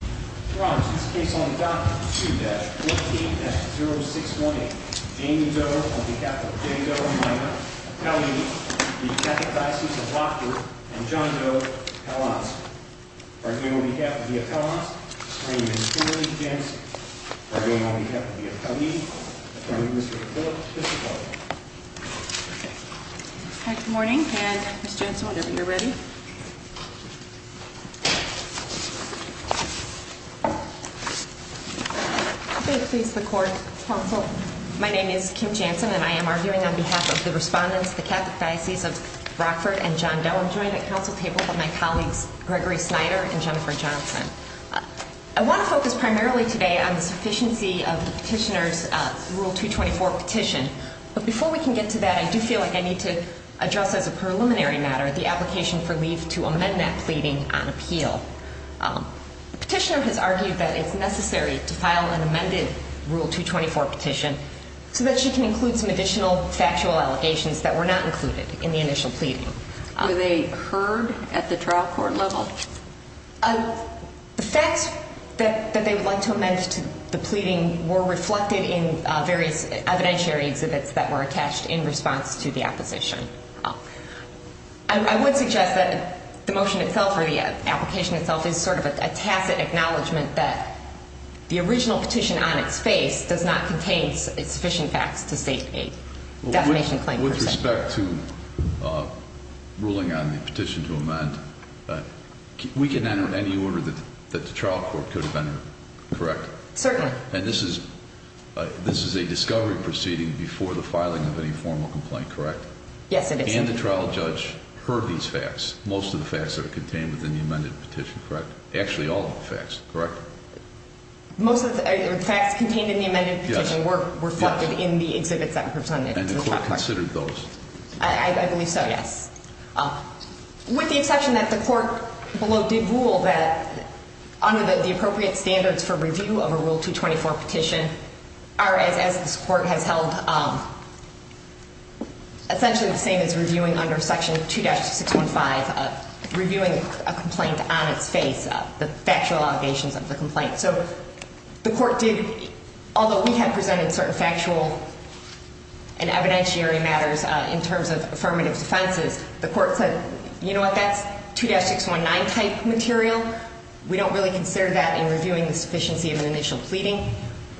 Dr. 2-14-0618, Jamie Doe on behalf of Jamie Doe, a minor, appellee of the Catholic Diocese of Rockford, and John Doe, appellant. Bargain on behalf of the appellants, His Honor, Mr. Henry Jensen. Bargain on behalf of the appellees, Mr. Phillip Piscopo. Good morning, and Ms. Jensen, whenever you're ready. May it please the court, counsel. My name is Kim Jensen, and I am arguing on behalf of the respondents, the Catholic Diocese of Rockford, and John Doe. I'm joined at council table by my colleagues Gregory Snyder and Jennifer Johnson. I want to focus primarily today on the sufficiency of the petitioner's Rule 224 petition. But before we can get to that, I do feel like I need to address as a preliminary matter the application for leave to amend that pleading on appeal. The petitioner has argued that it's necessary to file an amended Rule 224 petition so that she can include some additional factual allegations that were not included in the initial pleading. Were they heard at the trial court level? The facts that they would like to amend to the pleading were reflected in various evidentiary exhibits that were attached in response to the opposition. I would suggest that the motion itself or the application itself is sort of a tacit acknowledgement that the original petition on its face does not contain sufficient facts to state a defamation claim per se. With respect to ruling on the petition to amend, we can enter any order that the trial court could have entered, correct? Certainly. And this is a discovery proceeding before the filing of any formal complaint, correct? Yes, it is. And the trial judge heard these facts, most of the facts that are contained within the amended petition, correct? Actually, all of the facts, correct? Most of the facts contained in the amended petition were reflected in the exhibits that were presented to the trial court. And the court considered those? I believe so, yes. With the exception that the court below did rule that under the appropriate standards for review of a Rule 224 petition, as this court has held essentially the same as reviewing under Section 2-615, reviewing a complaint on its face, the factual allegations of the complaint. So the court did, although we had presented certain factual and evidentiary matters in terms of affirmative defenses, the court said, you know what, that's 2-619 type material. We don't really consider that in reviewing the sufficiency of an initial pleading.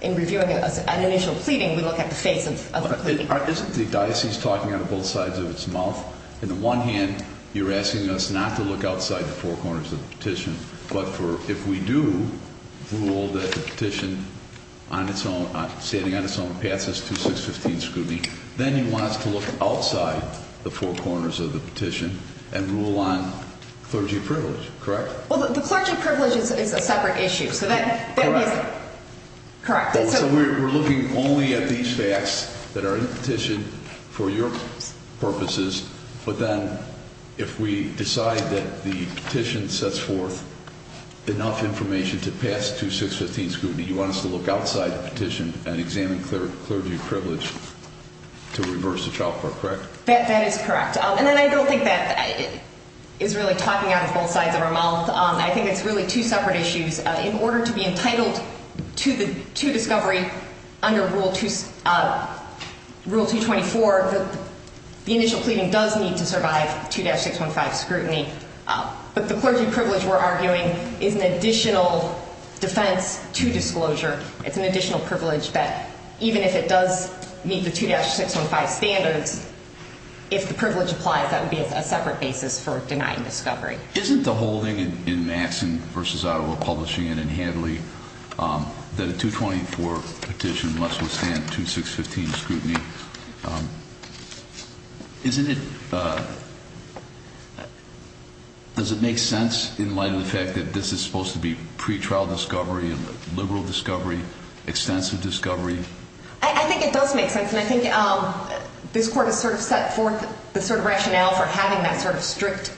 In reviewing an initial pleading, we look at the face of the pleading. Aren't the diocese talking out of both sides of its mouth? On the one hand, you're asking us not to look outside the four corners of the petition. But if we do rule that the petition, standing on its own, passes 2-615 scrutiny, then he wants to look outside the four corners of the petition and rule on clergy privilege, correct? Well, the clergy privilege is a separate issue. Correct. Correct. So we're looking only at these facts that are in the petition for your purposes. But then if we decide that the petition sets forth enough information to pass 2-615 scrutiny, you want us to look outside the petition and examine clergy privilege to reverse the child court, correct? That is correct. And then I don't think that is really talking out of both sides of our mouth. I think it's really two separate issues. In order to be entitled to discovery under Rule 224, the initial pleading does need to survive 2-615 scrutiny. But the clergy privilege, we're arguing, is an additional defense to disclosure. It's an additional privilege that even if it does meet the 2-615 standards, if the privilege applies, that would be a separate basis for denying discovery. Isn't the holding in Maxson v. Ottawa Publishing and in Hadley that a 224 petition must withstand 2-615 scrutiny? Doesn't it make sense in light of the fact that this is supposed to be pretrial discovery, liberal discovery, extensive discovery? I think it does make sense, and I think this Court has sort of set forth the sort of rationale for having that sort of strict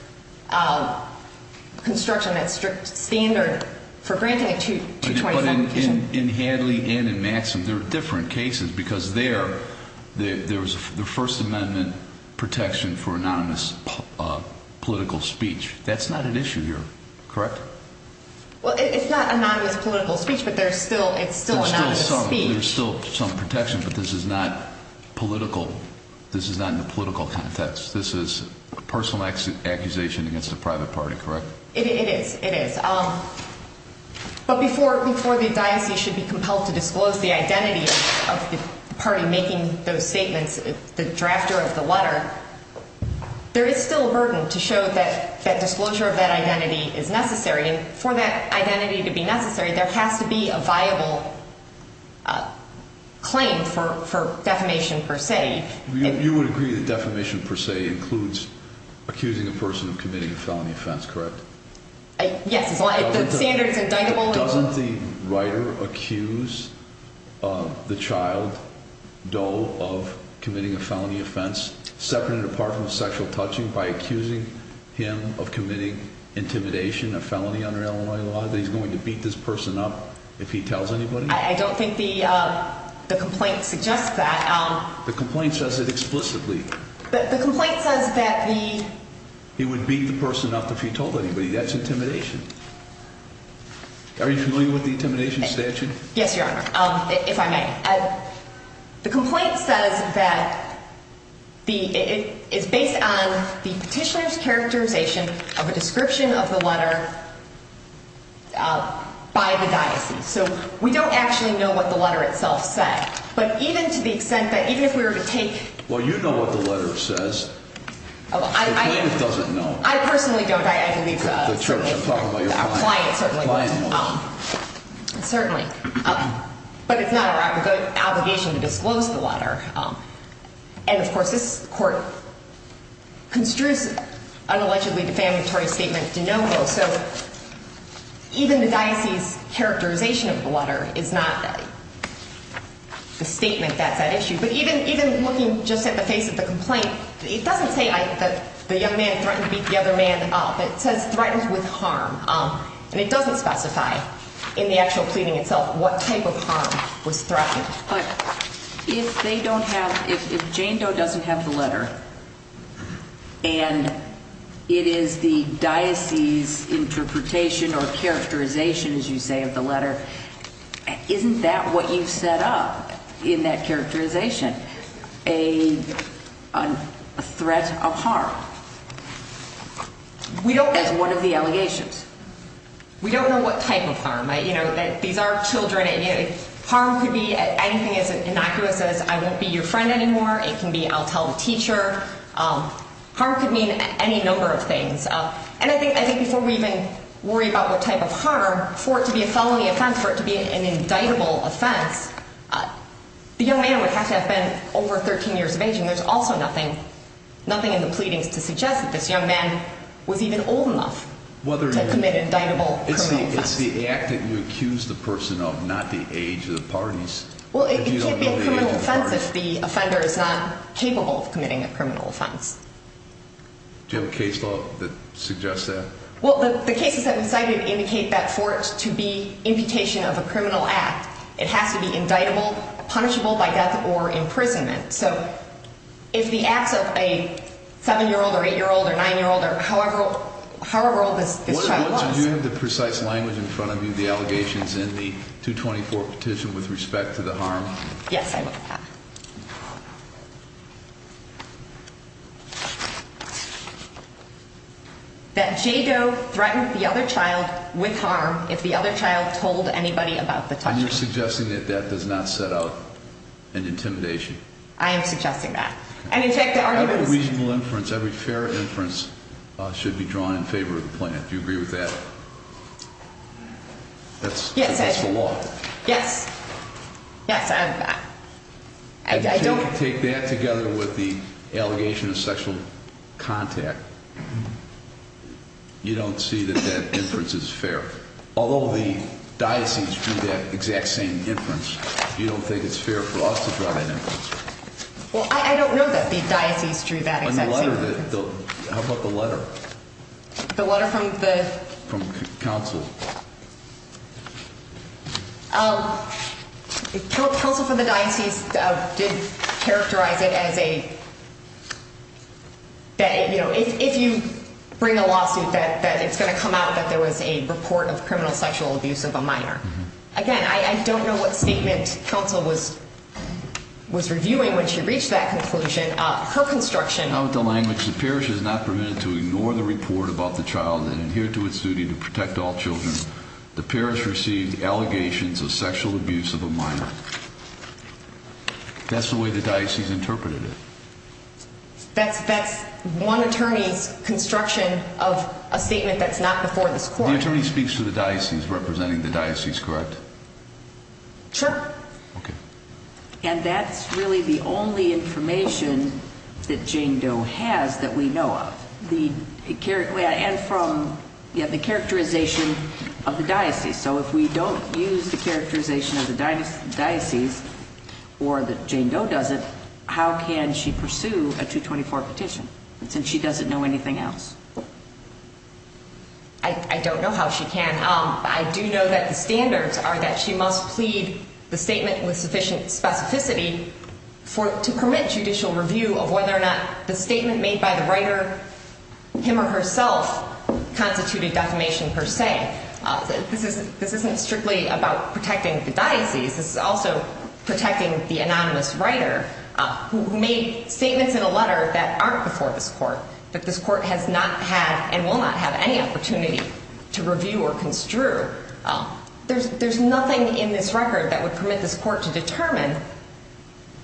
construction, that strict standard for granting a 224 petition. But in Hadley and in Maxson, there are different cases because there, there was the First Amendment protection for anonymous political speech. That's not an issue here, correct? Well, it's not anonymous political speech, but there's still, it's still anonymous speech. There's still some protection, but this is not political. This is not in the political context. This is a personal accusation against a private party, correct? It is, it is. But before the diocese should be compelled to disclose the identity of the party making those statements, the drafter of the letter, there is still a burden to show that that disclosure of that identity is necessary. And for that identity to be necessary, there has to be a viable claim for, for defamation per se. You would agree that defamation per se includes accusing a person of committing a felony offense, correct? Yes. Doesn't the writer accuse the child, Doe, of committing a felony offense, separate and apart from sexual touching, by accusing him of committing intimidation, a felony under Illinois law, that he's going to beat this person up if he tells anybody? I don't think the complaint suggests that. The complaint says it explicitly. The complaint says that the... He would beat the person up if he told anybody. That's intimidation. Are you familiar with the intimidation statute? Yes, Your Honor, if I may. The complaint says that it is based on the petitioner's characterization of a description of the letter by the diocese. So we don't actually know what the letter itself said. But even to the extent that even if we were to take... Well, you know what the letter says. The complaint doesn't know. I personally don't. I believe the client certainly does. The client knows. Certainly. But it's not our obligation to disclose the letter. And, of course, this Court construes an allegedly defamatory statement de novo. So even the diocese's characterization of the letter is not the statement that's at issue. But even looking just at the face of the complaint, it doesn't say that the young man threatened to beat the other man up. It says threatened with harm. And it doesn't specify in the actual pleading itself what type of harm was threatened. But if they don't have ‑‑ if Jane Doe doesn't have the letter and it is the diocese's interpretation or characterization, as you say, of the letter, isn't that what you've set up in that characterization, a threat of harm as one of the allegations? We don't know what type of harm. You know, these are children. Harm could be anything as innocuous as I won't be your friend anymore. It can be I'll tell the teacher. Harm could mean any number of things. And I think before we even worry about what type of harm, for it to be a felony offense, for it to be an indictable offense, the young man would have to have been over 13 years of age. And there's also nothing in the pleadings to suggest that this young man was even old enough to commit an indictable criminal offense. It's the act that you accuse the person of, not the age of the parties. Well, it can't be a criminal offense if the offender is not capable of committing a criminal offense. Do you have a case law that suggests that? Well, the cases that we cited indicate that for it to be imputation of a criminal act, it has to be indictable, punishable by death or imprisonment. So if the acts of a 7‑year‑old or 8‑year‑old or 9‑year‑old or however old this child was. Do you have the precise language in front of you, the allegations in the 224 petition with respect to the harm? Yes, I do. That J. Doe threatened the other child with harm if the other child told anybody about the touching. And you're suggesting that that does not set out an intimidation? I am suggesting that. Every reasonable inference, every fair inference should be drawn in favor of the plan. Do you agree with that? Yes, I do. That's the law. Yes. Yes, I don't. If you take that together with the allegation of sexual contact, you don't see that that inference is fair. Although the diocese drew that exact same inference, you don't think it's fair for us to draw that inference? Well, I don't know that the diocese drew that exact same inference. How about the letter? The letter from the? From counsel. Counsel for the diocese did characterize it as a, you know, if you bring a lawsuit that it's going to come out that there was a report of criminal sexual abuse of a minor. Again, I don't know what statement counsel was reviewing when she reached that conclusion. Her construction. How about the language? The parish is not permitted to ignore the report about the child and adhere to its duty to protect all children. The parish received allegations of sexual abuse of a minor. That's the way the diocese interpreted it. That's one attorney's construction of a statement that's not before this court. The attorney speaks to the diocese representing the diocese, correct? Sure. Okay. And that's really the only information that Jane Doe has that we know of. And from the characterization of the diocese. So if we don't use the characterization of the diocese or that Jane Doe doesn't, how can she pursue a 224 petition since she doesn't know anything else? I don't know how she can. I do know that the standards are that she must plead the statement with sufficient specificity to permit judicial review of whether or not the statement made by the writer, him or herself, constituted defamation per se. This isn't strictly about protecting the diocese. This is also protecting the anonymous writer who made statements in a letter that aren't before this court. That this court has not had and will not have any opportunity to review or construe. There's nothing in this record that would permit this court to determine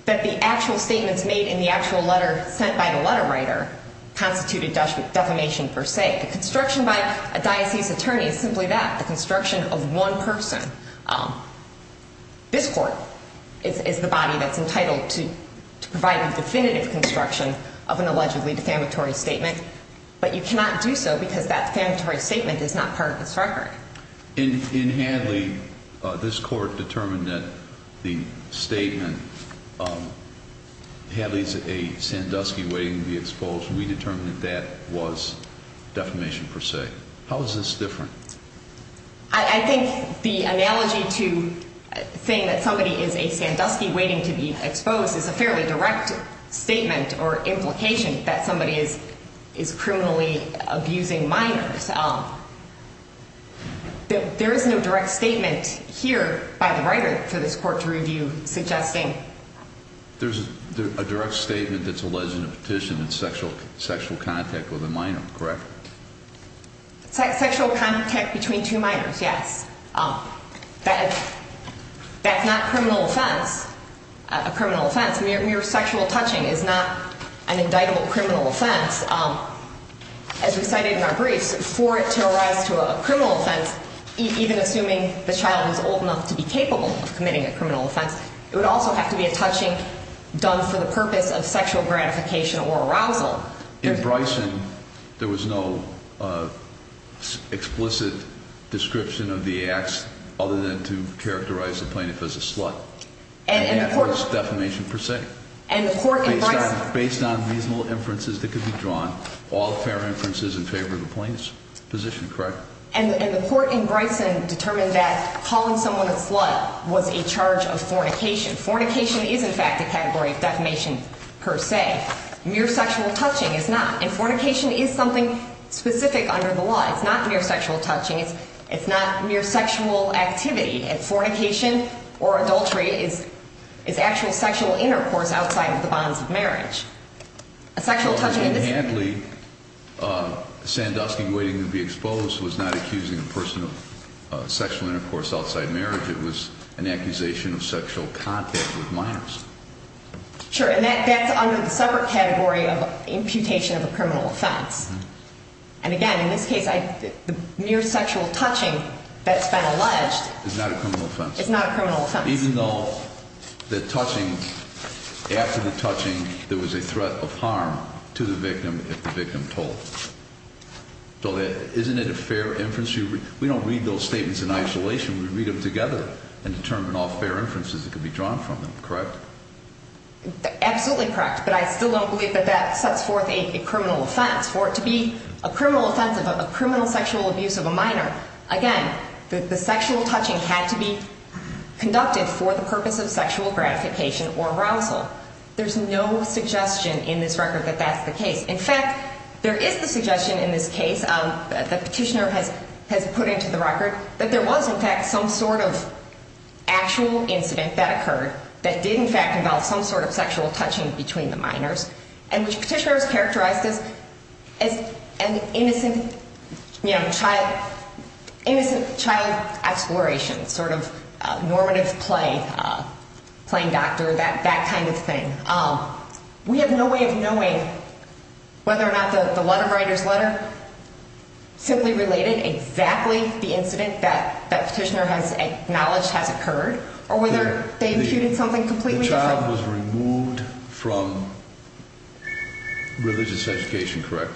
that the actual statements made in the actual letter sent by the letter writer constituted defamation per se. The construction by a diocese attorney is simply that, the construction of one person. This court is the body that's entitled to provide the definitive construction of an allegedly defamatory statement. But you cannot do so because that defamatory statement is not part of this record. In Hadley, this court determined that the statement, Hadley's a Sandusky waiting to be exposed. We determined that that was defamation per se. How is this different? I think the analogy to saying that somebody is a Sandusky waiting to be exposed is a fairly direct statement or implication that somebody is criminally abusing minors. There is no direct statement here by the writer for this court to review suggesting. There's a direct statement that's alleged in the petition, it's sexual contact with a minor, correct? Sexual contact between two minors, yes. That's not criminal offense, a criminal offense. Mere sexual touching is not an indictable criminal offense. As we cited in our briefs, for it to arise to a criminal offense, even assuming the child is old enough to be capable of committing a criminal offense, it would also have to be a touching done for the purpose of sexual gratification or arousal. In Bryson, there was no explicit description of the acts other than to characterize the plaintiff as a slut. And that was defamation per se. Based on reasonable inferences that could be drawn, all fair inferences in favor of the plaintiff's position, correct? And the court in Bryson determined that calling someone a slut was a charge of fornication. Fornication is, in fact, a category of defamation per se. Mere sexual touching is not. And fornication is something specific under the law. It's not mere sexual touching. It's not mere sexual activity. And fornication or adultery is actual sexual intercourse outside of the bonds of marriage. A sexual touching in this case. Sandusky, waiting to be exposed, was not accusing a person of sexual intercourse outside marriage. It was an accusation of sexual contact with minors. Sure, and that's under the separate category of imputation of a criminal offense. And again, in this case, the mere sexual touching that's been alleged is not a criminal offense. It's not a criminal offense. Even though the touching, after the touching, there was a threat of harm to the victim if the victim told. So isn't it a fair inference? We don't read those statements in isolation. We read them together and determine all fair inferences that could be drawn from them, correct? Absolutely correct. But I still don't believe that that sets forth a criminal offense. For it to be a criminal offense of a criminal sexual abuse of a minor, again, the sexual touching had to be conducted for the purpose of sexual gratification or arousal. There's no suggestion in this record that that's the case. In fact, there is the suggestion in this case that the petitioner has put into the record that there was, in fact, some sort of actual incident that occurred that did, in fact, involve some sort of sexual touching between the minors. And the petitioner has characterized this as an innocent child exploration, sort of normative play, playing doctor, that kind of thing. We have no way of knowing whether or not the letter writer's letter simply related exactly the incident that that petitioner has acknowledged has occurred or whether they imputed something completely different. The child was removed from religious education, correct?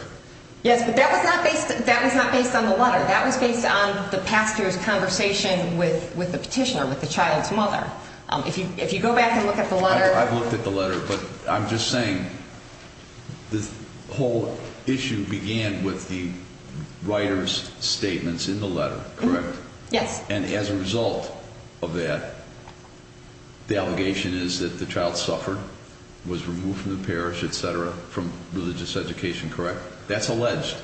Yes, but that was not based on the letter. That was based on the pastor's conversation with the petitioner, with the child's mother. If you go back and look at the letter. I've looked at the letter, but I'm just saying this whole issue began with the writer's statements in the letter, correct? Yes. And as a result of that, the allegation is that the child suffered, was removed from the parish, et cetera, from religious education, correct? That's alleged.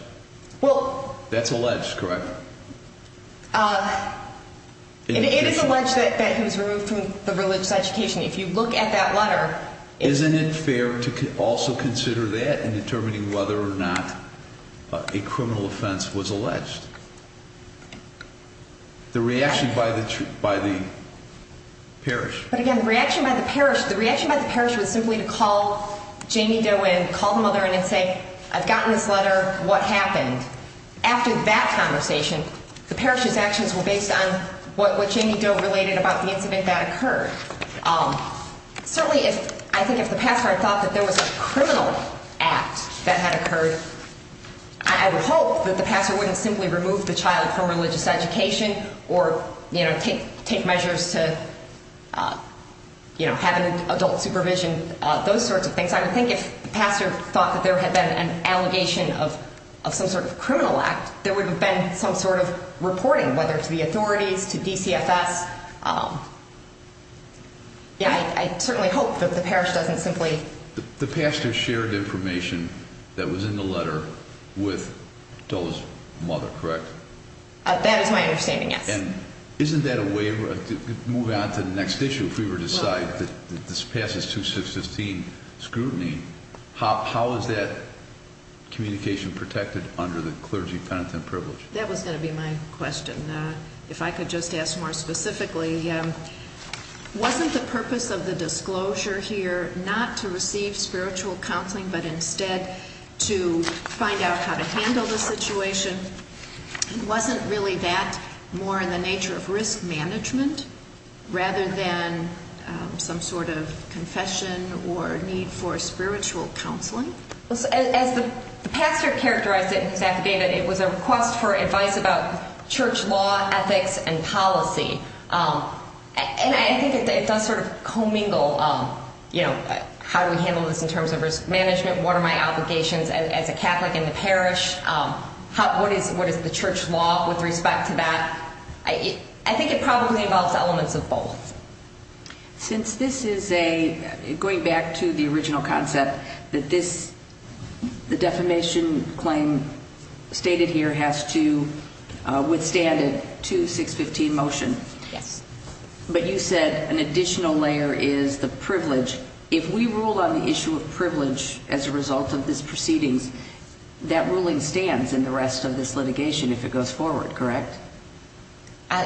Well. That's alleged, correct? It is alleged that he was removed from the religious education. If you look at that letter. Isn't it fair to also consider that in determining whether or not a criminal offense was alleged? The reaction by the parish. But again, the reaction by the parish, the reaction by the parish was simply to call Jamie Derwin, call the mother in and say, I've gotten this letter, what happened? After that conversation, the parish's actions were based on what Jamie Derwin related about the incident that occurred. Certainly, I think if the pastor had thought that there was a criminal act that had occurred, I would hope that the pastor wouldn't simply remove the child from religious education or take measures to have an adult supervision, those sorts of things. I think if the pastor thought that there had been an allegation of some sort of criminal act, there would have been some sort of reporting, whether to the authorities, to DCFS. Yeah, I certainly hope that the parish doesn't simply. The pastor shared information that was in the letter with Dole's mother, correct? That is my understanding, yes. And isn't that a way to move on to the next issue? If we were to decide that this passes 2615 scrutiny, how is that communication protected under the clergy penitent privilege? That was going to be my question. If I could just ask more specifically, wasn't the purpose of the disclosure here not to receive spiritual counseling, but instead to find out how to handle the situation? Wasn't really that more in the nature of risk management rather than some sort of confession or need for spiritual counseling? As the pastor characterized it in his affidavit, it was a request for advice about church law, ethics, and policy. And I think it does sort of commingle, you know, how do we handle this in terms of risk management, what are my obligations as a Catholic in the parish, what is the church law with respect to that? I think it probably involves elements of both. Since this is a, going back to the original concept, that this, the defamation claim stated here has to withstand a 2615 motion. Yes. But you said an additional layer is the privilege. If we rule on the issue of privilege as a result of this proceedings, that ruling stands in the rest of this litigation if it goes forward, correct?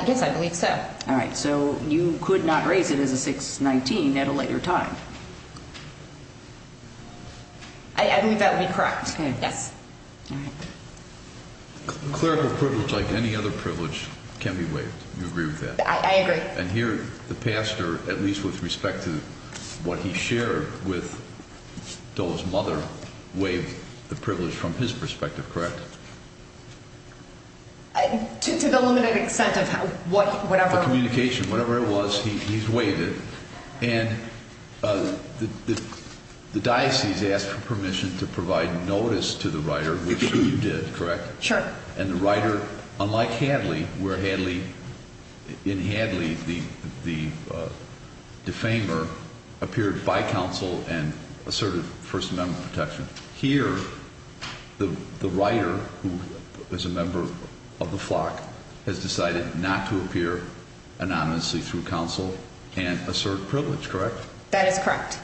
Yes, I believe so. All right. So you could not raise it as a 619 at a later time? I believe that would be correct. Okay. Yes. All right. Clerical privilege, like any other privilege, can be waived. Do you agree with that? I agree. And here the pastor, at least with respect to what he shared with Doe's mother, waived the privilege from his perspective, correct? To the limited extent of whatever. The communication, whatever it was, he's waived it. And the diocese asked for permission to provide notice to the writer, which you did, correct? Sure. And the writer, unlike Hadley, where Hadley, in Hadley the defamer, appeared by counsel and asserted First Amendment protection. Here the writer, who is a member of the flock, has decided not to appear anonymously through counsel and assert privilege, correct? That is correct.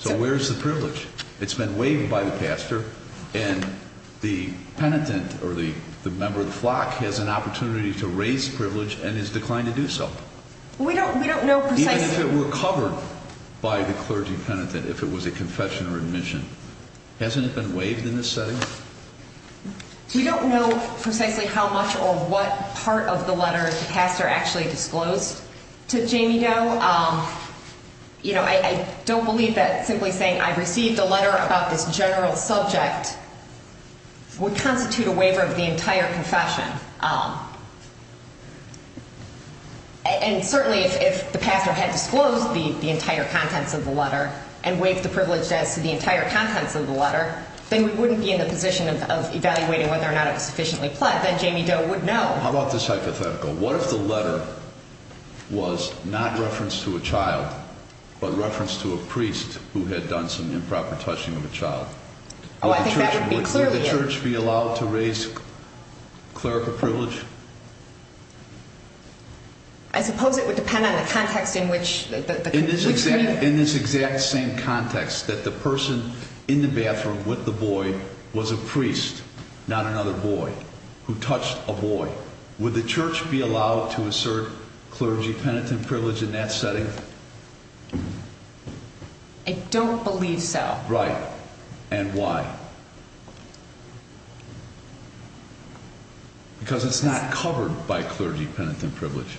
So where is the privilege? It's been waived by the pastor, and the penitent or the member of the flock has an opportunity to raise privilege and has declined to do so. We don't know precisely. Even if it were covered by the clergy penitent, if it was a confession or admission. Hasn't it been waived in this setting? We don't know precisely how much or what part of the letter the pastor actually disclosed to Jamie Doe. I don't believe that simply saying I received a letter about this general subject would constitute a waiver of the entire confession. And certainly if the pastor had disclosed the entire contents of the letter and waived the privilege as to the entire contents of the letter, then we wouldn't be in the position of evaluating whether or not it was sufficiently pled that Jamie Doe would know. How about this hypothetical? What if the letter was not referenced to a child, but referenced to a priest who had done some improper touching of a child? Would the church be allowed to raise clerical privilege? I suppose it would depend on the context in which… In this exact same context, that the person in the bathroom with the boy was a priest, not another boy, who touched a boy. Would the church be allowed to assert clergy penitent privilege in that setting? I don't believe so. Right. And why? Because it's not covered by clergy penitent privilege.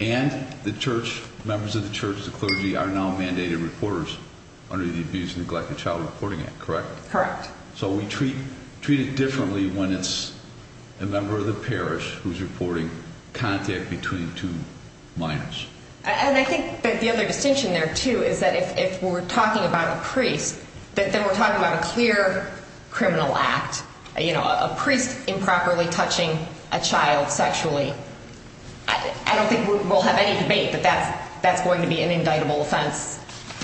And the members of the church, the clergy, are now mandated reporters under the Abuse and Neglect of Child Reporting Act, correct? Correct. So we treat it differently when it's a member of the parish who's reporting contact between two minors. And I think that the other distinction there, too, is that if we're talking about a priest, then we're talking about a clear criminal act. You know, a priest improperly touching a child sexually, I don't think we'll have any debate that that's going to be an indictable offense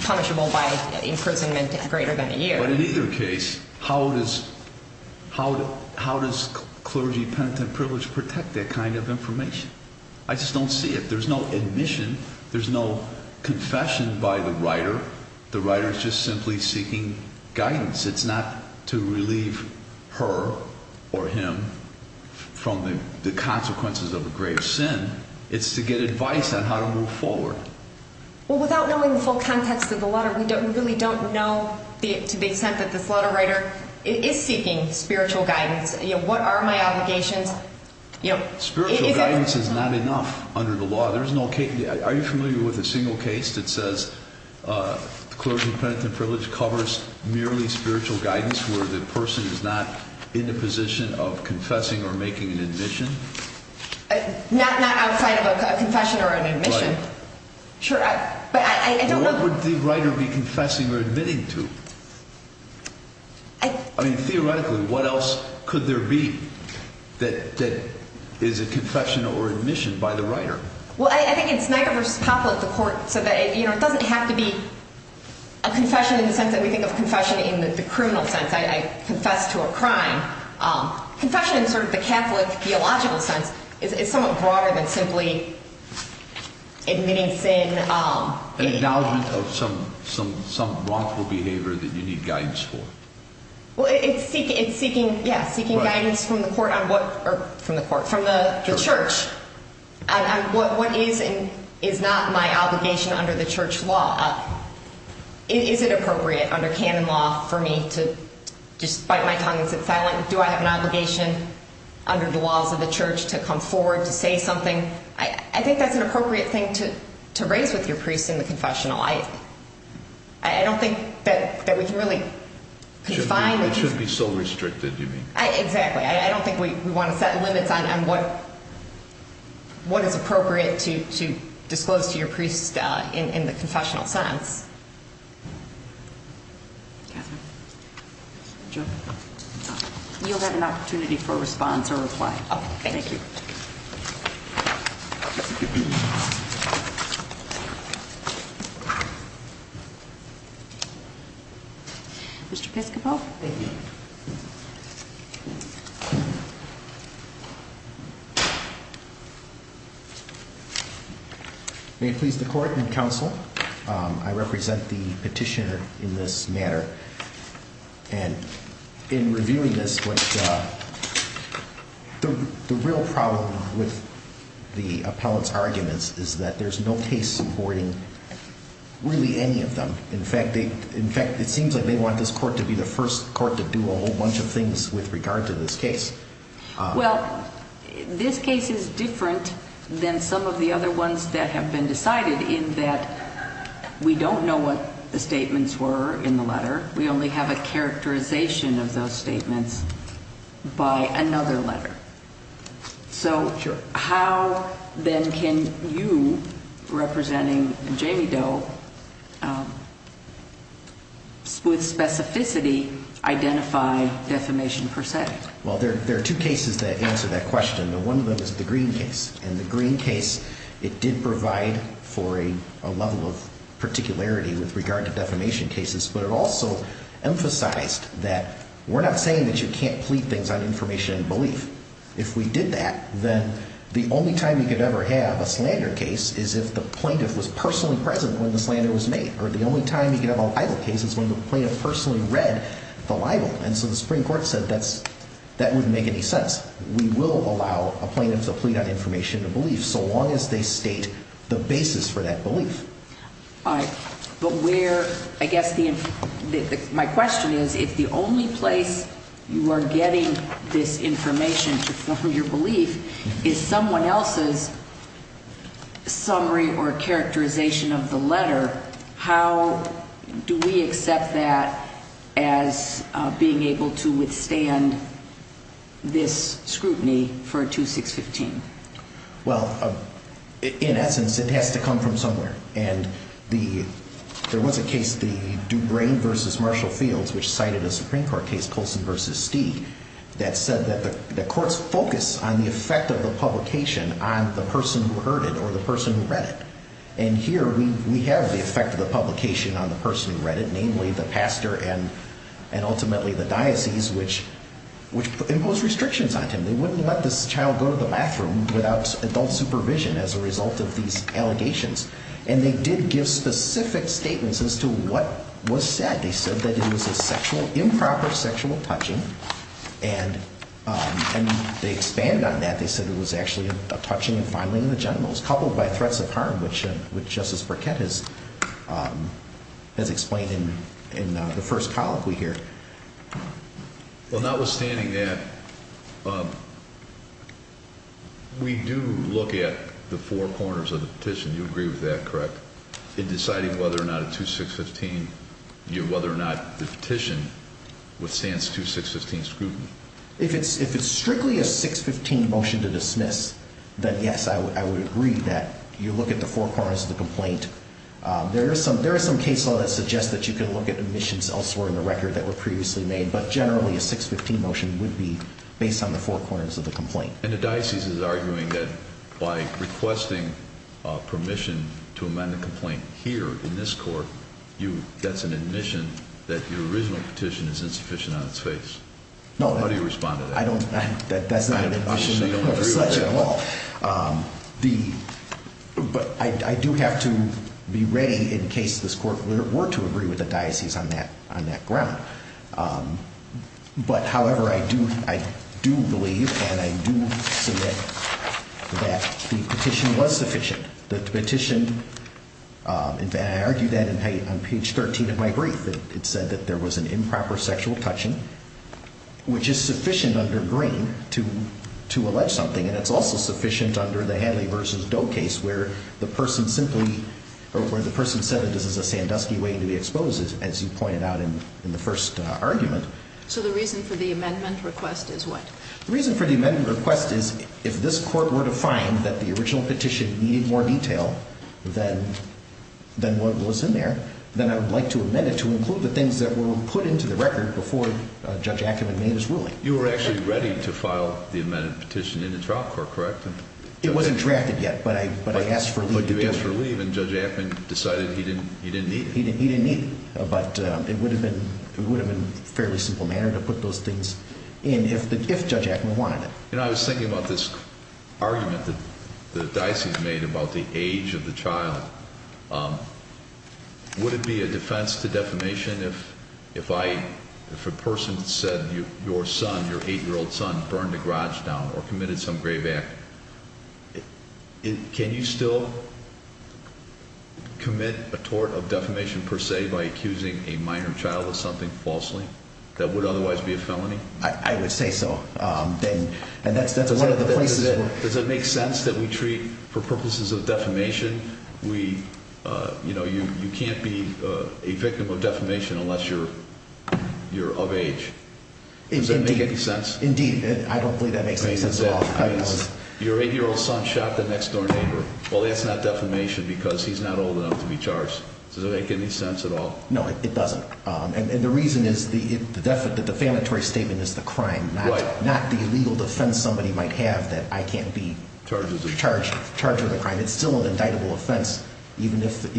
punishable by imprisonment greater than a year. Right. But in either case, how does clergy penitent privilege protect that kind of information? I just don't see it. There's no admission. There's no confession by the writer. The writer is just simply seeking guidance. It's not to relieve her or him from the consequences of a grave sin. It's to get advice on how to move forward. Well, without knowing the full context of the letter, we don't really don't know to the extent that this letter writer is seeking spiritual guidance. What are my obligations? Spiritual guidance is not enough under the law. Are you familiar with a single case that says clergy penitent privilege covers merely spiritual guidance where the person is not in a position of confessing or making an admission? Not outside of a confession or an admission. Right. Sure. But I don't know. What would the writer be confessing or admitting to? I mean, theoretically, what else could there be that is a confession or admission by the writer? Well, I think it's Niagara v. Poplar, the court, so that it doesn't have to be a confession in the sense that we think of confession in the criminal sense. I confess to a crime. Confession in sort of the Catholic theological sense is somewhat broader than simply admitting sin. An acknowledgment of some wrongful behavior that you need guidance for. Well, it's seeking guidance from the court on what – or from the court – from the church on what is and is not my obligation under the church law. Is it appropriate under canon law for me to just bite my tongue and sit silent? Do I have an obligation under the laws of the church to come forward, to say something? I think that's an appropriate thing to raise with your priest in the confessional. I don't think that we can really confine – It should be so restricted, you mean. Exactly. I don't think we want to set limits on what is appropriate to disclose to your priest in the confessional sense. You'll have an opportunity for a response or reply. Oh, thank you. Mr. Piscopo? Thank you. May it please the court and counsel, I represent the petitioner in this matter. And in reviewing this, the real problem with the appellate's arguments is that there's no case supporting really any of them. In fact, it seems like they want this court to be the first court to do a whole bunch of things with regard to this case. Well, this case is different than some of the other ones that have been decided in that we don't know what the statements were in the letter. We only have a characterization of those statements by another letter. Sure. But how, then, can you, representing Jamie Doe, with specificity, identify defamation per se? Well, there are two cases that answer that question. One of them is the Green case. In the Green case, it did provide for a level of particularity with regard to defamation cases, but it also emphasized that we're not saying that you can't plead things on information and belief. If we did that, then the only time you could ever have a slander case is if the plaintiff was personally present when the slander was made, or the only time you could have a libel case is when the plaintiff personally read the libel. And so the Supreme Court said that wouldn't make any sense. We will allow a plaintiff to plead on information and belief so long as they state the basis for that belief. All right, but where, I guess, my question is, if the only place you are getting this information to form your belief is someone else's summary or characterization of the letter, how do we accept that as being able to withstand this scrutiny for a 2615? Well, in essence, it has to come from somewhere. And there was a case, the Dubrain v. Marshall Fields, which cited a Supreme Court case, Colson v. Stee, that said that the courts focus on the effect of the publication on the person who heard it or the person who read it. And here we have the effect of the publication on the person who read it, namely the pastor and ultimately the diocese, which imposed restrictions on him. They wouldn't let this child go to the bathroom without adult supervision as a result of these allegations. And they did give specific statements as to what was said. They said that it was a sexual, improper sexual touching. And they expanded on that. They said it was actually a touching and filing of the genitals, coupled by threats of harm, which Justice Burkett has explained in the first colloquy here. Well, notwithstanding that, we do look at the four corners of the petition. You agree with that, correct, in deciding whether or not a 2615, whether or not the petition withstands 2615 scrutiny? If it's strictly a 615 motion to dismiss, then yes, I would agree that you look at the four corners of the complaint. There is some case law that suggests that you can look at admissions elsewhere in the record that were previously made, but generally a 615 motion would be based on the four corners of the complaint. And the diocese is arguing that by requesting permission to amend the complaint here in this court, that's an admission that the original petition is insufficient on its face. How do you respond to that? That's not an admission of the selection at all. But I do have to be ready in case this court were to agree with the diocese on that ground. But, however, I do believe and I do submit that the petition was sufficient. The petition, in fact, I argued that on page 13 of my brief. It said that there was an improper sexual touching, which is sufficient under Green to allege something, and it's also sufficient under the Hadley v. Doe case where the person simply, or where the person said it is a Sandusky way to be exposed, as you pointed out in the first argument. So the reason for the amendment request is what? The reason for the amendment request is if this court were to find that the original petition needed more detail than what was in there, then I would like to amend it to include the things that were put into the record before Judge Ackerman made his ruling. You were actually ready to file the amended petition in the trial court, correct? It wasn't drafted yet, but I asked for leave to do it. But you asked for leave and Judge Ackerman decided he didn't need it. He didn't need it, but it would have been a fairly simple matter to put those things in if Judge Ackerman wanted it. You know, I was thinking about this argument that the diocese made about the age of the child. Would it be a defense to defamation if a person said your son, your 8-year-old son, burned a garage down or committed some grave act? Can you still commit a tort of defamation per se by accusing a minor child of something falsely that would otherwise be a felony? I would say so. Does it make sense that we treat, for purposes of defamation, you can't be a victim of defamation unless you're of age? Does that make any sense? Indeed. I don't believe that makes any sense at all. Your 8-year-old son shot the next door neighbor. Well, that's not defamation because he's not old enough to be charged. Does it make any sense at all? No, it doesn't. And the reason is the defamatory statement is the crime, not the illegal defense somebody might have that I can't be charged with a crime. It's still an indictable offense even if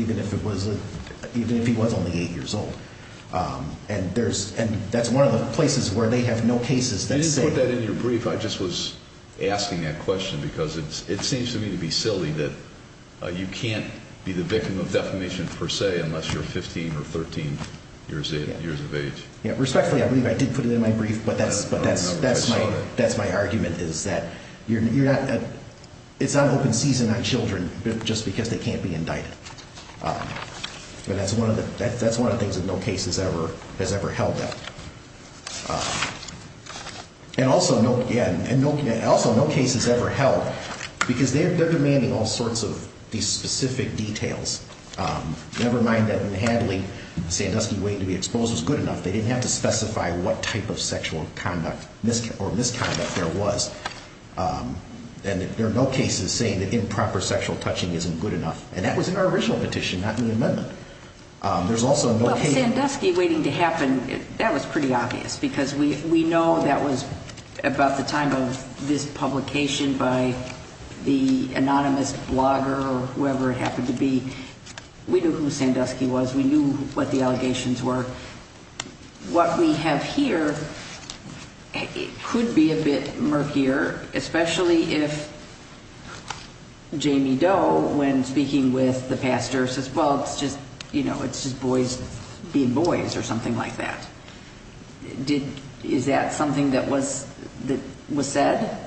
he was only 8 years old. And that's one of the places where they have no cases that say— You didn't put that in your brief. I just was asking that question because it seems to me to be silly that you can't be the victim of defamation per se unless you're 15 or 13. Years of age. Respectfully, I believe I did put it in my brief, but that's my argument is that it's not open season on children just because they can't be indicted. But that's one of the things that no case has ever held that. And also, yeah, and also no case has ever held because they're demanding all sorts of these specific details. Never mind that in handling Sandusky waiting to be exposed was good enough. They didn't have to specify what type of sexual conduct or misconduct there was. And there are no cases saying that improper sexual touching isn't good enough. And that was in our original petition, not in the amendment. Well, Sandusky waiting to happen, that was pretty obvious because we know that was about the time of this publication by the anonymous blogger or whoever it happened to be. We knew who Sandusky was. We knew what the allegations were. What we have here could be a bit murkier, especially if Jamie Doe, when speaking with the pastor, says, well, it's just, you know, it's just boys being boys or something like that. Did is that something that was that was said?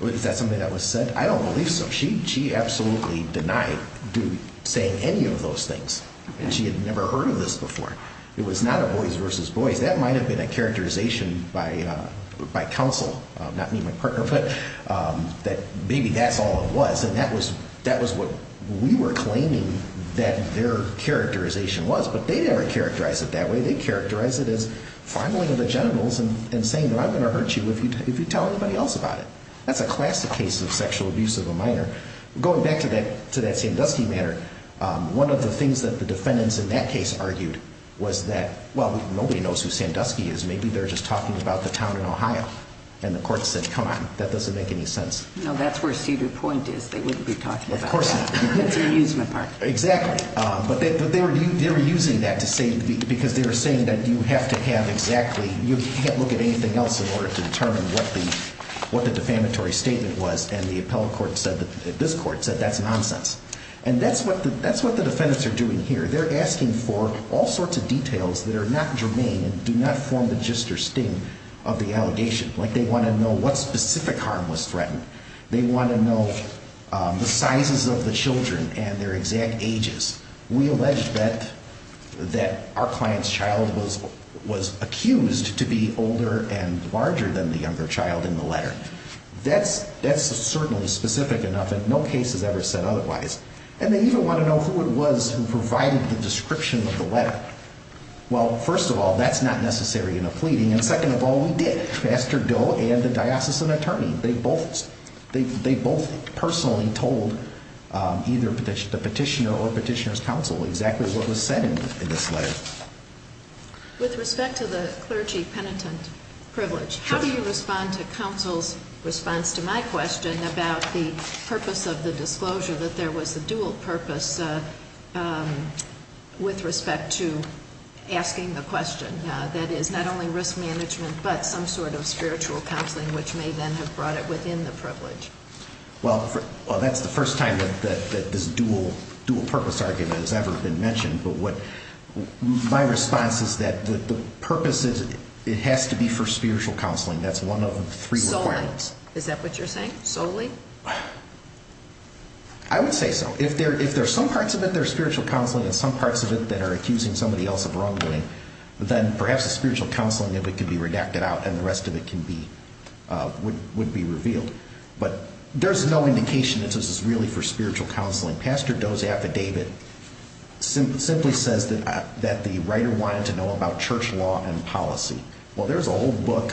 Is that something that was said? I don't believe so. She absolutely denied saying any of those things. And she had never heard of this before. It was not a boys versus boys. That might have been a characterization by my counsel, not me, my partner, but that maybe that's all it was. And that was that was what we were claiming that their characterization was. But they never characterize it that way. They characterize it as fumbling of the genitals and saying that I'm going to hurt you if you tell anybody else about it. That's a classic case of sexual abuse of a minor. Going back to that, to that Sandusky matter, one of the things that the defendants in that case argued was that, well, nobody knows who Sandusky is. Maybe they're just talking about the town in Ohio. And the court said, come on, that doesn't make any sense. No, that's where Cedar Point is. They wouldn't be talking about that. Of course not. That's an amusement park. Exactly. But they were using that to say because they were saying that you have to have exactly you can't look at anything else in order to determine what the what the defamatory statement was. And the appellate court said that this court said that's nonsense. And that's what that's what the defendants are doing here. They're asking for all sorts of details that are not germane and do not form the gist or sting of the allegation. Like they want to know what specific harm was threatened. They want to know the sizes of the children and their exact ages. We allege that that our client's child was was accused to be older and larger than the younger child in the letter. That's that's certainly specific enough. And no case has ever said otherwise. And they even want to know who it was who provided the description of the letter. Well, first of all, that's not necessary in a pleading. And second of all, we did. Master Doe and the diocesan attorney, they both they both personally told either petition the petitioner or petitioner's counsel exactly what was said in this letter. With respect to the clergy penitent privilege, how do you respond to counsel's response to my question about the purpose of the disclosure that there was a dual purpose with respect to asking the question? That is not only risk management, but some sort of spiritual counseling, which may then have brought it within the privilege. Well, that's the first time that this dual dual purpose argument has ever been mentioned. But what my response is that the purpose is it has to be for spiritual counseling. That's one of the three. So is that what you're saying solely? I would say so. If there if there's some parts of it, there's spiritual counseling and some parts of it that are accusing somebody else of wrongdoing, then perhaps a spiritual counseling that could be redacted out and the rest of it can be would be revealed. But there's no indication that this is really for spiritual counseling. Pastor Doe's affidavit simply says that that the writer wanted to know about church law and policy. Well, there's a whole book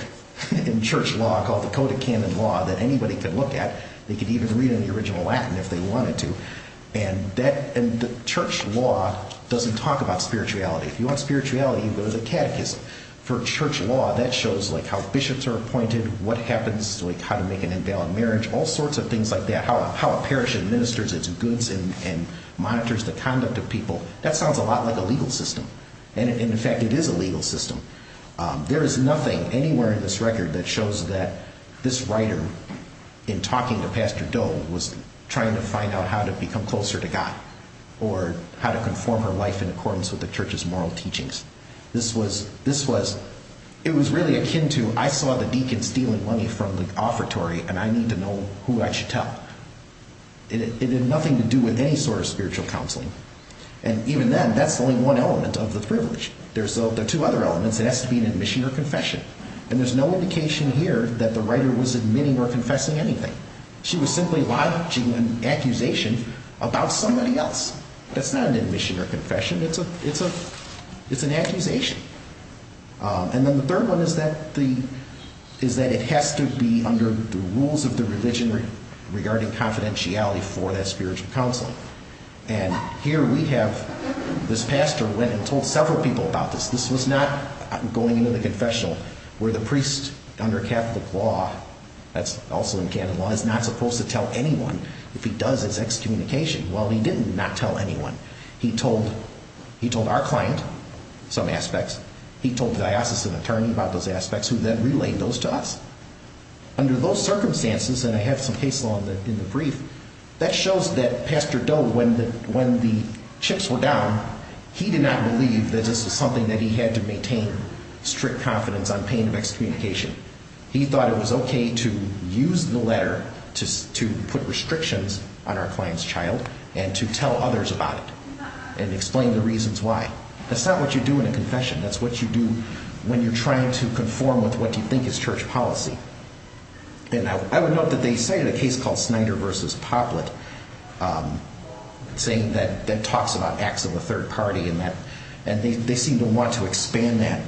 in church law called the Code of Canon Law that anybody can look at. They could even read in the original Latin if they wanted to. And that and the church law doesn't talk about spirituality. If you want spirituality, you go to the catechism for church law that shows like how bishops are appointed, what happens, like how to make an invalid marriage, all sorts of things like that, how a parish administers its goods and monitors the conduct of people. That sounds a lot like a legal system. And in fact, it is a legal system. There is nothing anywhere in this record that shows that this writer in talking to Pastor Doe was trying to find out how to become closer to God or how to conform her life in accordance with the church's moral teachings. This was this was it was really akin to I saw the deacon stealing money from the offertory and I need to know who I should tell. It had nothing to do with any sort of spiritual counseling. And even then, that's only one element of the privilege. There's the two other elements. It has to be an admission or confession. And there's no indication here that the writer was admitting or confessing anything. She was simply lodging an accusation about somebody else. That's not an admission or confession. It's a it's a it's an accusation. And then the third one is that the is that it has to be under the rules of the religion regarding confidentiality for that spiritual counseling. And here we have this pastor went and told several people about this. This was not going into the confessional where the priest under Catholic law, that's also in canon law, is not supposed to tell anyone if he does his excommunication. Well, he did not tell anyone. He told he told our client some aspects. He told diocesan attorney about those aspects who then relayed those to us. Under those circumstances, and I have some case law in the brief that shows that Pastor Doe, when the when the chips were down, he did not believe that this was something that he had to maintain strict confidence on pain of excommunication. He thought it was OK to use the letter to to put restrictions on our client's child and to tell others about it and explain the reasons why. That's not what you do in a confession. That's what you do when you're trying to conform with what you think is church policy. And I would note that they say in a case called Snyder versus Poplett saying that that talks about acts of the third party in that. And they seem to want to expand that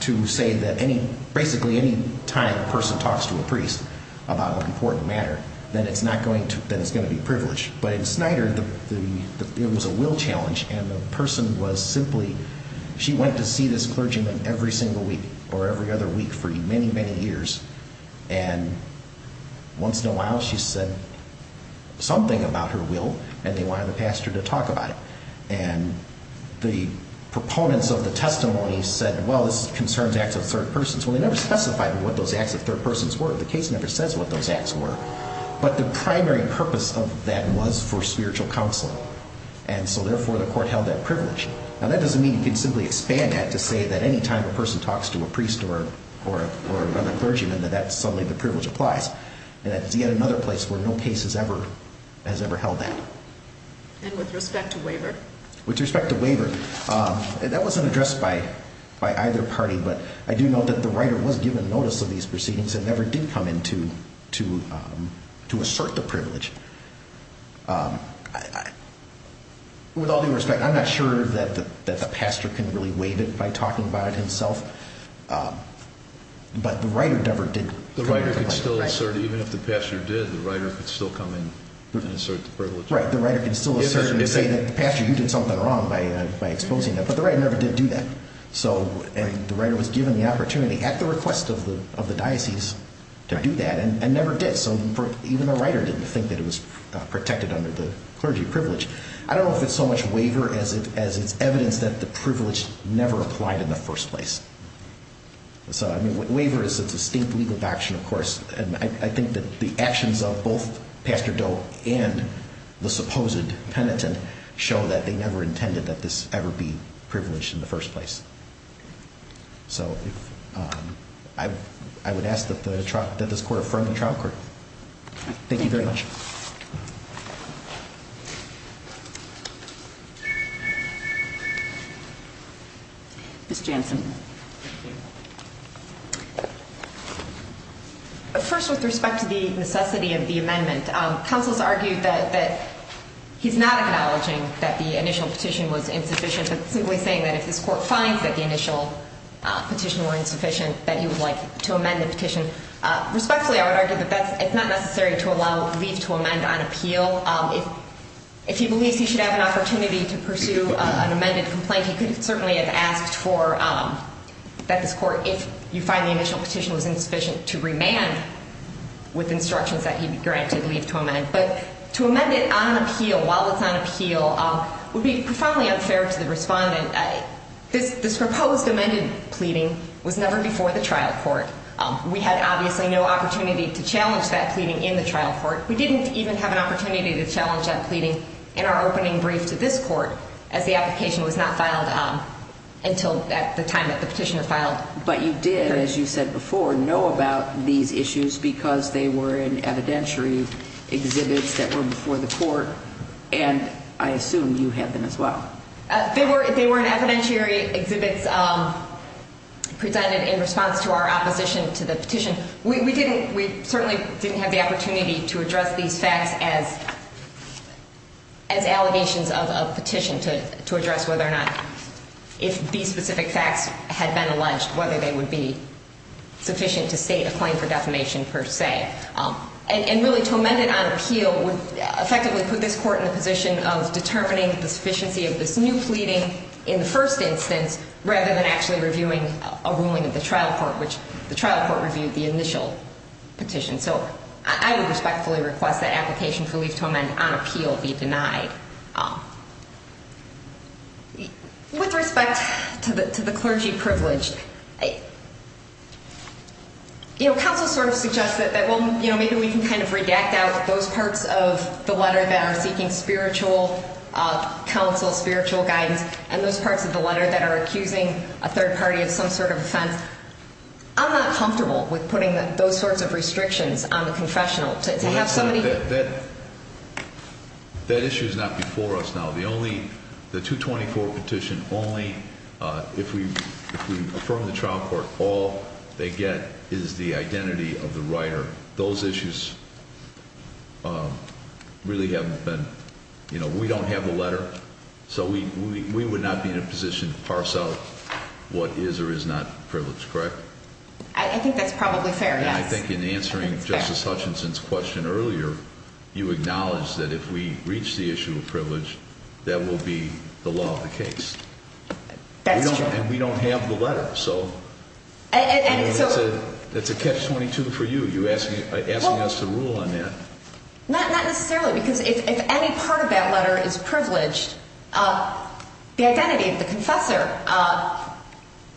to say that any basically any time a person talks to a priest about an important matter, then it's not going to. Then it's going to be privileged. But in Snyder, the it was a will challenge and the person was simply she went to see this clergyman every single week or every other week for many, many years. And once in a while she said something about her will and they wanted the pastor to talk about it. And the proponents of the testimony said, well, this concerns acts of third persons. Well, they never specified what those acts of third persons were. The case never says what those acts were. But the primary purpose of that was for spiritual counseling. And so therefore, the court held that privilege. And that doesn't mean you can simply expand that to say that any time a person talks to a priest or or or another clergyman that that's something the privilege applies. And that's yet another place where no case has ever has ever held that. And with respect to waiver, with respect to waiver, that wasn't addressed by by either party. But I do know that the writer was given notice of these proceedings and never did come in to to to assert the privilege. With all due respect, I'm not sure that that the pastor can really waive it by talking about it himself. But the writer never did. The writer could still assert even if the pastor did, the writer could still come in and assert the privilege. Right. The writer can still say that the pastor, you did something wrong by exposing that. But the writer never did do that. So and the writer was given the opportunity at the request of the of the diocese to do that and never did. So even the writer didn't think that it was protected under the clergy privilege. I don't know if it's so much waiver as it as it's evidence that the privilege never applied in the first place. So I mean, waiver is a distinct legal action, of course. And I think that the actions of both Pastor Doe and the supposed penitent show that they never intended that this ever be privileged in the first place. So I would ask that this court affirm the trial court. Thank you very much. Ms. Jansen. First, with respect to the necessity of the amendment, counsel's argued that he's not acknowledging that the initial petition was insufficient, but simply saying that if this court finds that the initial petition were insufficient, that he would like to amend the petition. Respectfully, I would argue that it's not necessary to allow leave to amend on appeal. If he believes he should have an opportunity to pursue an amended complaint, he could certainly have asked for that this court, if you find the initial petition was insufficient, to remand with instructions that he be granted leave to amend. But to amend it on appeal, while it's on appeal, would be profoundly unfair to the respondent. This proposed amended pleading was never before the trial court. We had obviously no opportunity to challenge that pleading in the trial court. We didn't even have an opportunity to challenge that pleading in our opening brief to this court, as the application was not filed until at the time that the petitioner filed. But you did, as you said before, know about these issues because they were in evidentiary exhibits that were before the court, and I assume you had them as well. They were in evidentiary exhibits presented in response to our opposition to the petition. We certainly didn't have the opportunity to address these facts as allegations of a petition, to address whether or not if these specific facts had been alleged, whether they would be sufficient to state a claim for defamation per se. And really, to amend it on appeal would effectively put this court in the position of determining the sufficiency of this new pleading in the first instance, rather than actually reviewing a ruling of the trial court, which the trial court reviewed the initial petition. So I would respectfully request that application for leave to amend on appeal be denied. With respect to the clergy privileged, you know, counsel sort of suggests that maybe we can kind of redact out those parts of the letter that are seeking spiritual counsel, spiritual guidance, and those parts of the letter that are accusing a third party of some sort of offense. I'm not comfortable with putting those sorts of restrictions on the confessional. That issue is not before us now. The 224 petition only, if we affirm the trial court, all they get is the identity of the writer. Those issues really haven't been, you know, we don't have the letter, so we would not be in a position to parse out what is or is not privileged, correct? I think that's probably fair, yes. I think in answering Justice Hutchinson's question earlier, you acknowledge that if we reach the issue of privilege, that will be the law of the case. That's true. And we don't have the letter, so that's a catch-22 for you, you're asking us to rule on that. Not necessarily, because if any part of that letter is privileged, the identity of the confessor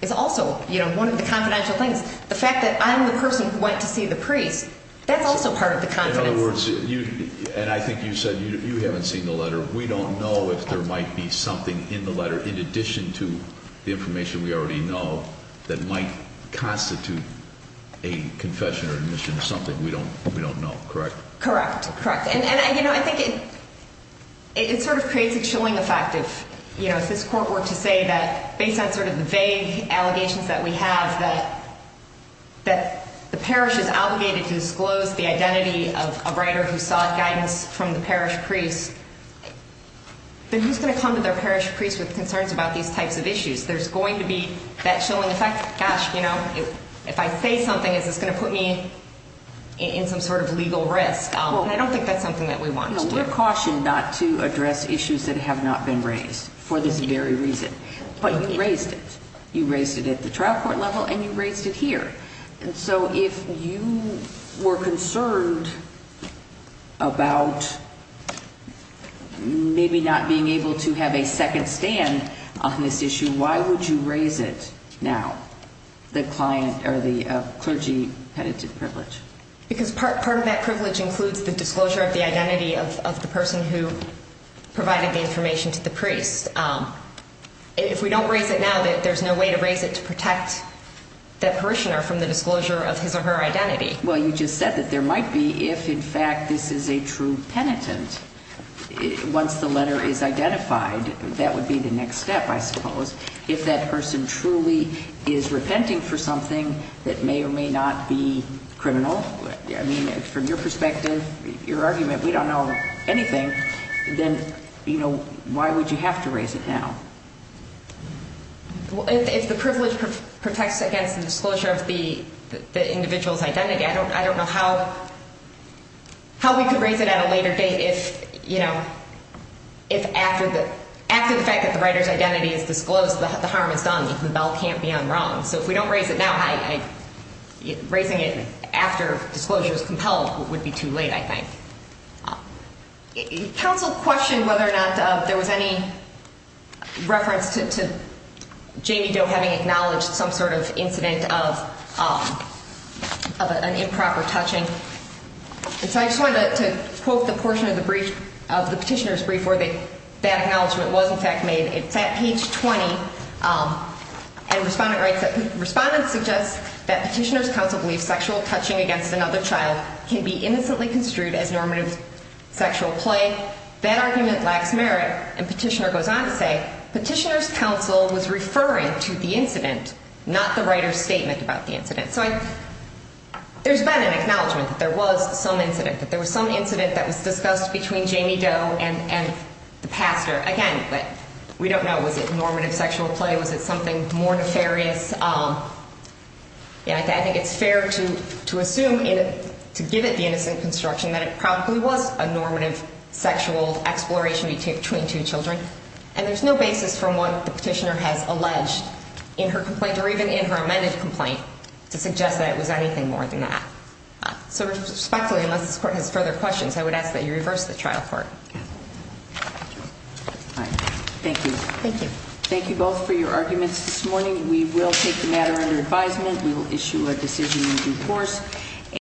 is also one of the confidential things. The fact that I'm the person who went to see the priest, that's also part of the confidentiality. In other words, and I think you said you haven't seen the letter, we don't know if there might be something in the letter in addition to the information we already know that might constitute a confession or admission of something we don't know, correct? Correct, correct. And, you know, I think it sort of creates a chilling effect if this court were to say that, based on sort of the vague allegations that we have, that the parish is obligated to disclose the identity of a writer who sought guidance from the parish priest, then who's going to come to their parish priest with concerns about these types of issues? There's going to be that chilling effect. Gosh, you know, if I say something, is this going to put me in some sort of legal risk? And I don't think that's something that we want to do. No, we're cautioned not to address issues that have not been raised for this very reason, but you raised it. You raised it at the trial court level, and you raised it here. And so if you were concerned about maybe not being able to have a second stand on this issue, why would you raise it now, the client or the clergy penitent privilege? Because part of that privilege includes the disclosure of the identity of the person who provided the information to the priest. If we don't raise it now, there's no way to raise it to protect that parishioner from the disclosure of his or her identity. Well, you just said that there might be if, in fact, this is a true penitent. Once the letter is identified, that would be the next step, I suppose. If that person truly is repenting for something that may or may not be criminal, I mean, from your perspective, your argument, we don't know anything, then, you know, why would you have to raise it now? If the privilege protects against the disclosure of the individual's identity, I don't know how we could raise it at a later date if, you know, after the fact that the writer's identity is disclosed, the harm is done, the bell can't be unrung. So if we don't raise it now, raising it after disclosure is compelled would be too late, I think. Counsel questioned whether or not there was any reference to Jamie Doe having acknowledged some sort of incident of an improper touching. And so I just wanted to quote the portion of the petitioner's brief where that acknowledgement was, in fact, made. It's at page 20, and Respondent writes that, can be innocently construed as normative sexual play. That argument lacks merit. And Petitioner goes on to say, Petitioner's counsel was referring to the incident, not the writer's statement about the incident. So there's been an acknowledgement that there was some incident, that there was some incident that was discussed between Jamie Doe and the pastor. Again, we don't know. Was it normative sexual play? Was it something more nefarious? I think it's fair to assume, to give it the innocent construction, that it probably was a normative sexual exploration between two children. And there's no basis from what the petitioner has alleged in her complaint, or even in her amended complaint, to suggest that it was anything more than that. So respectfully, unless this Court has further questions, I would ask that you reverse the trial court. Thank you. Thank you. Thank you both for your arguments this morning. We will take the matter under advisement. We will issue a decision in due course.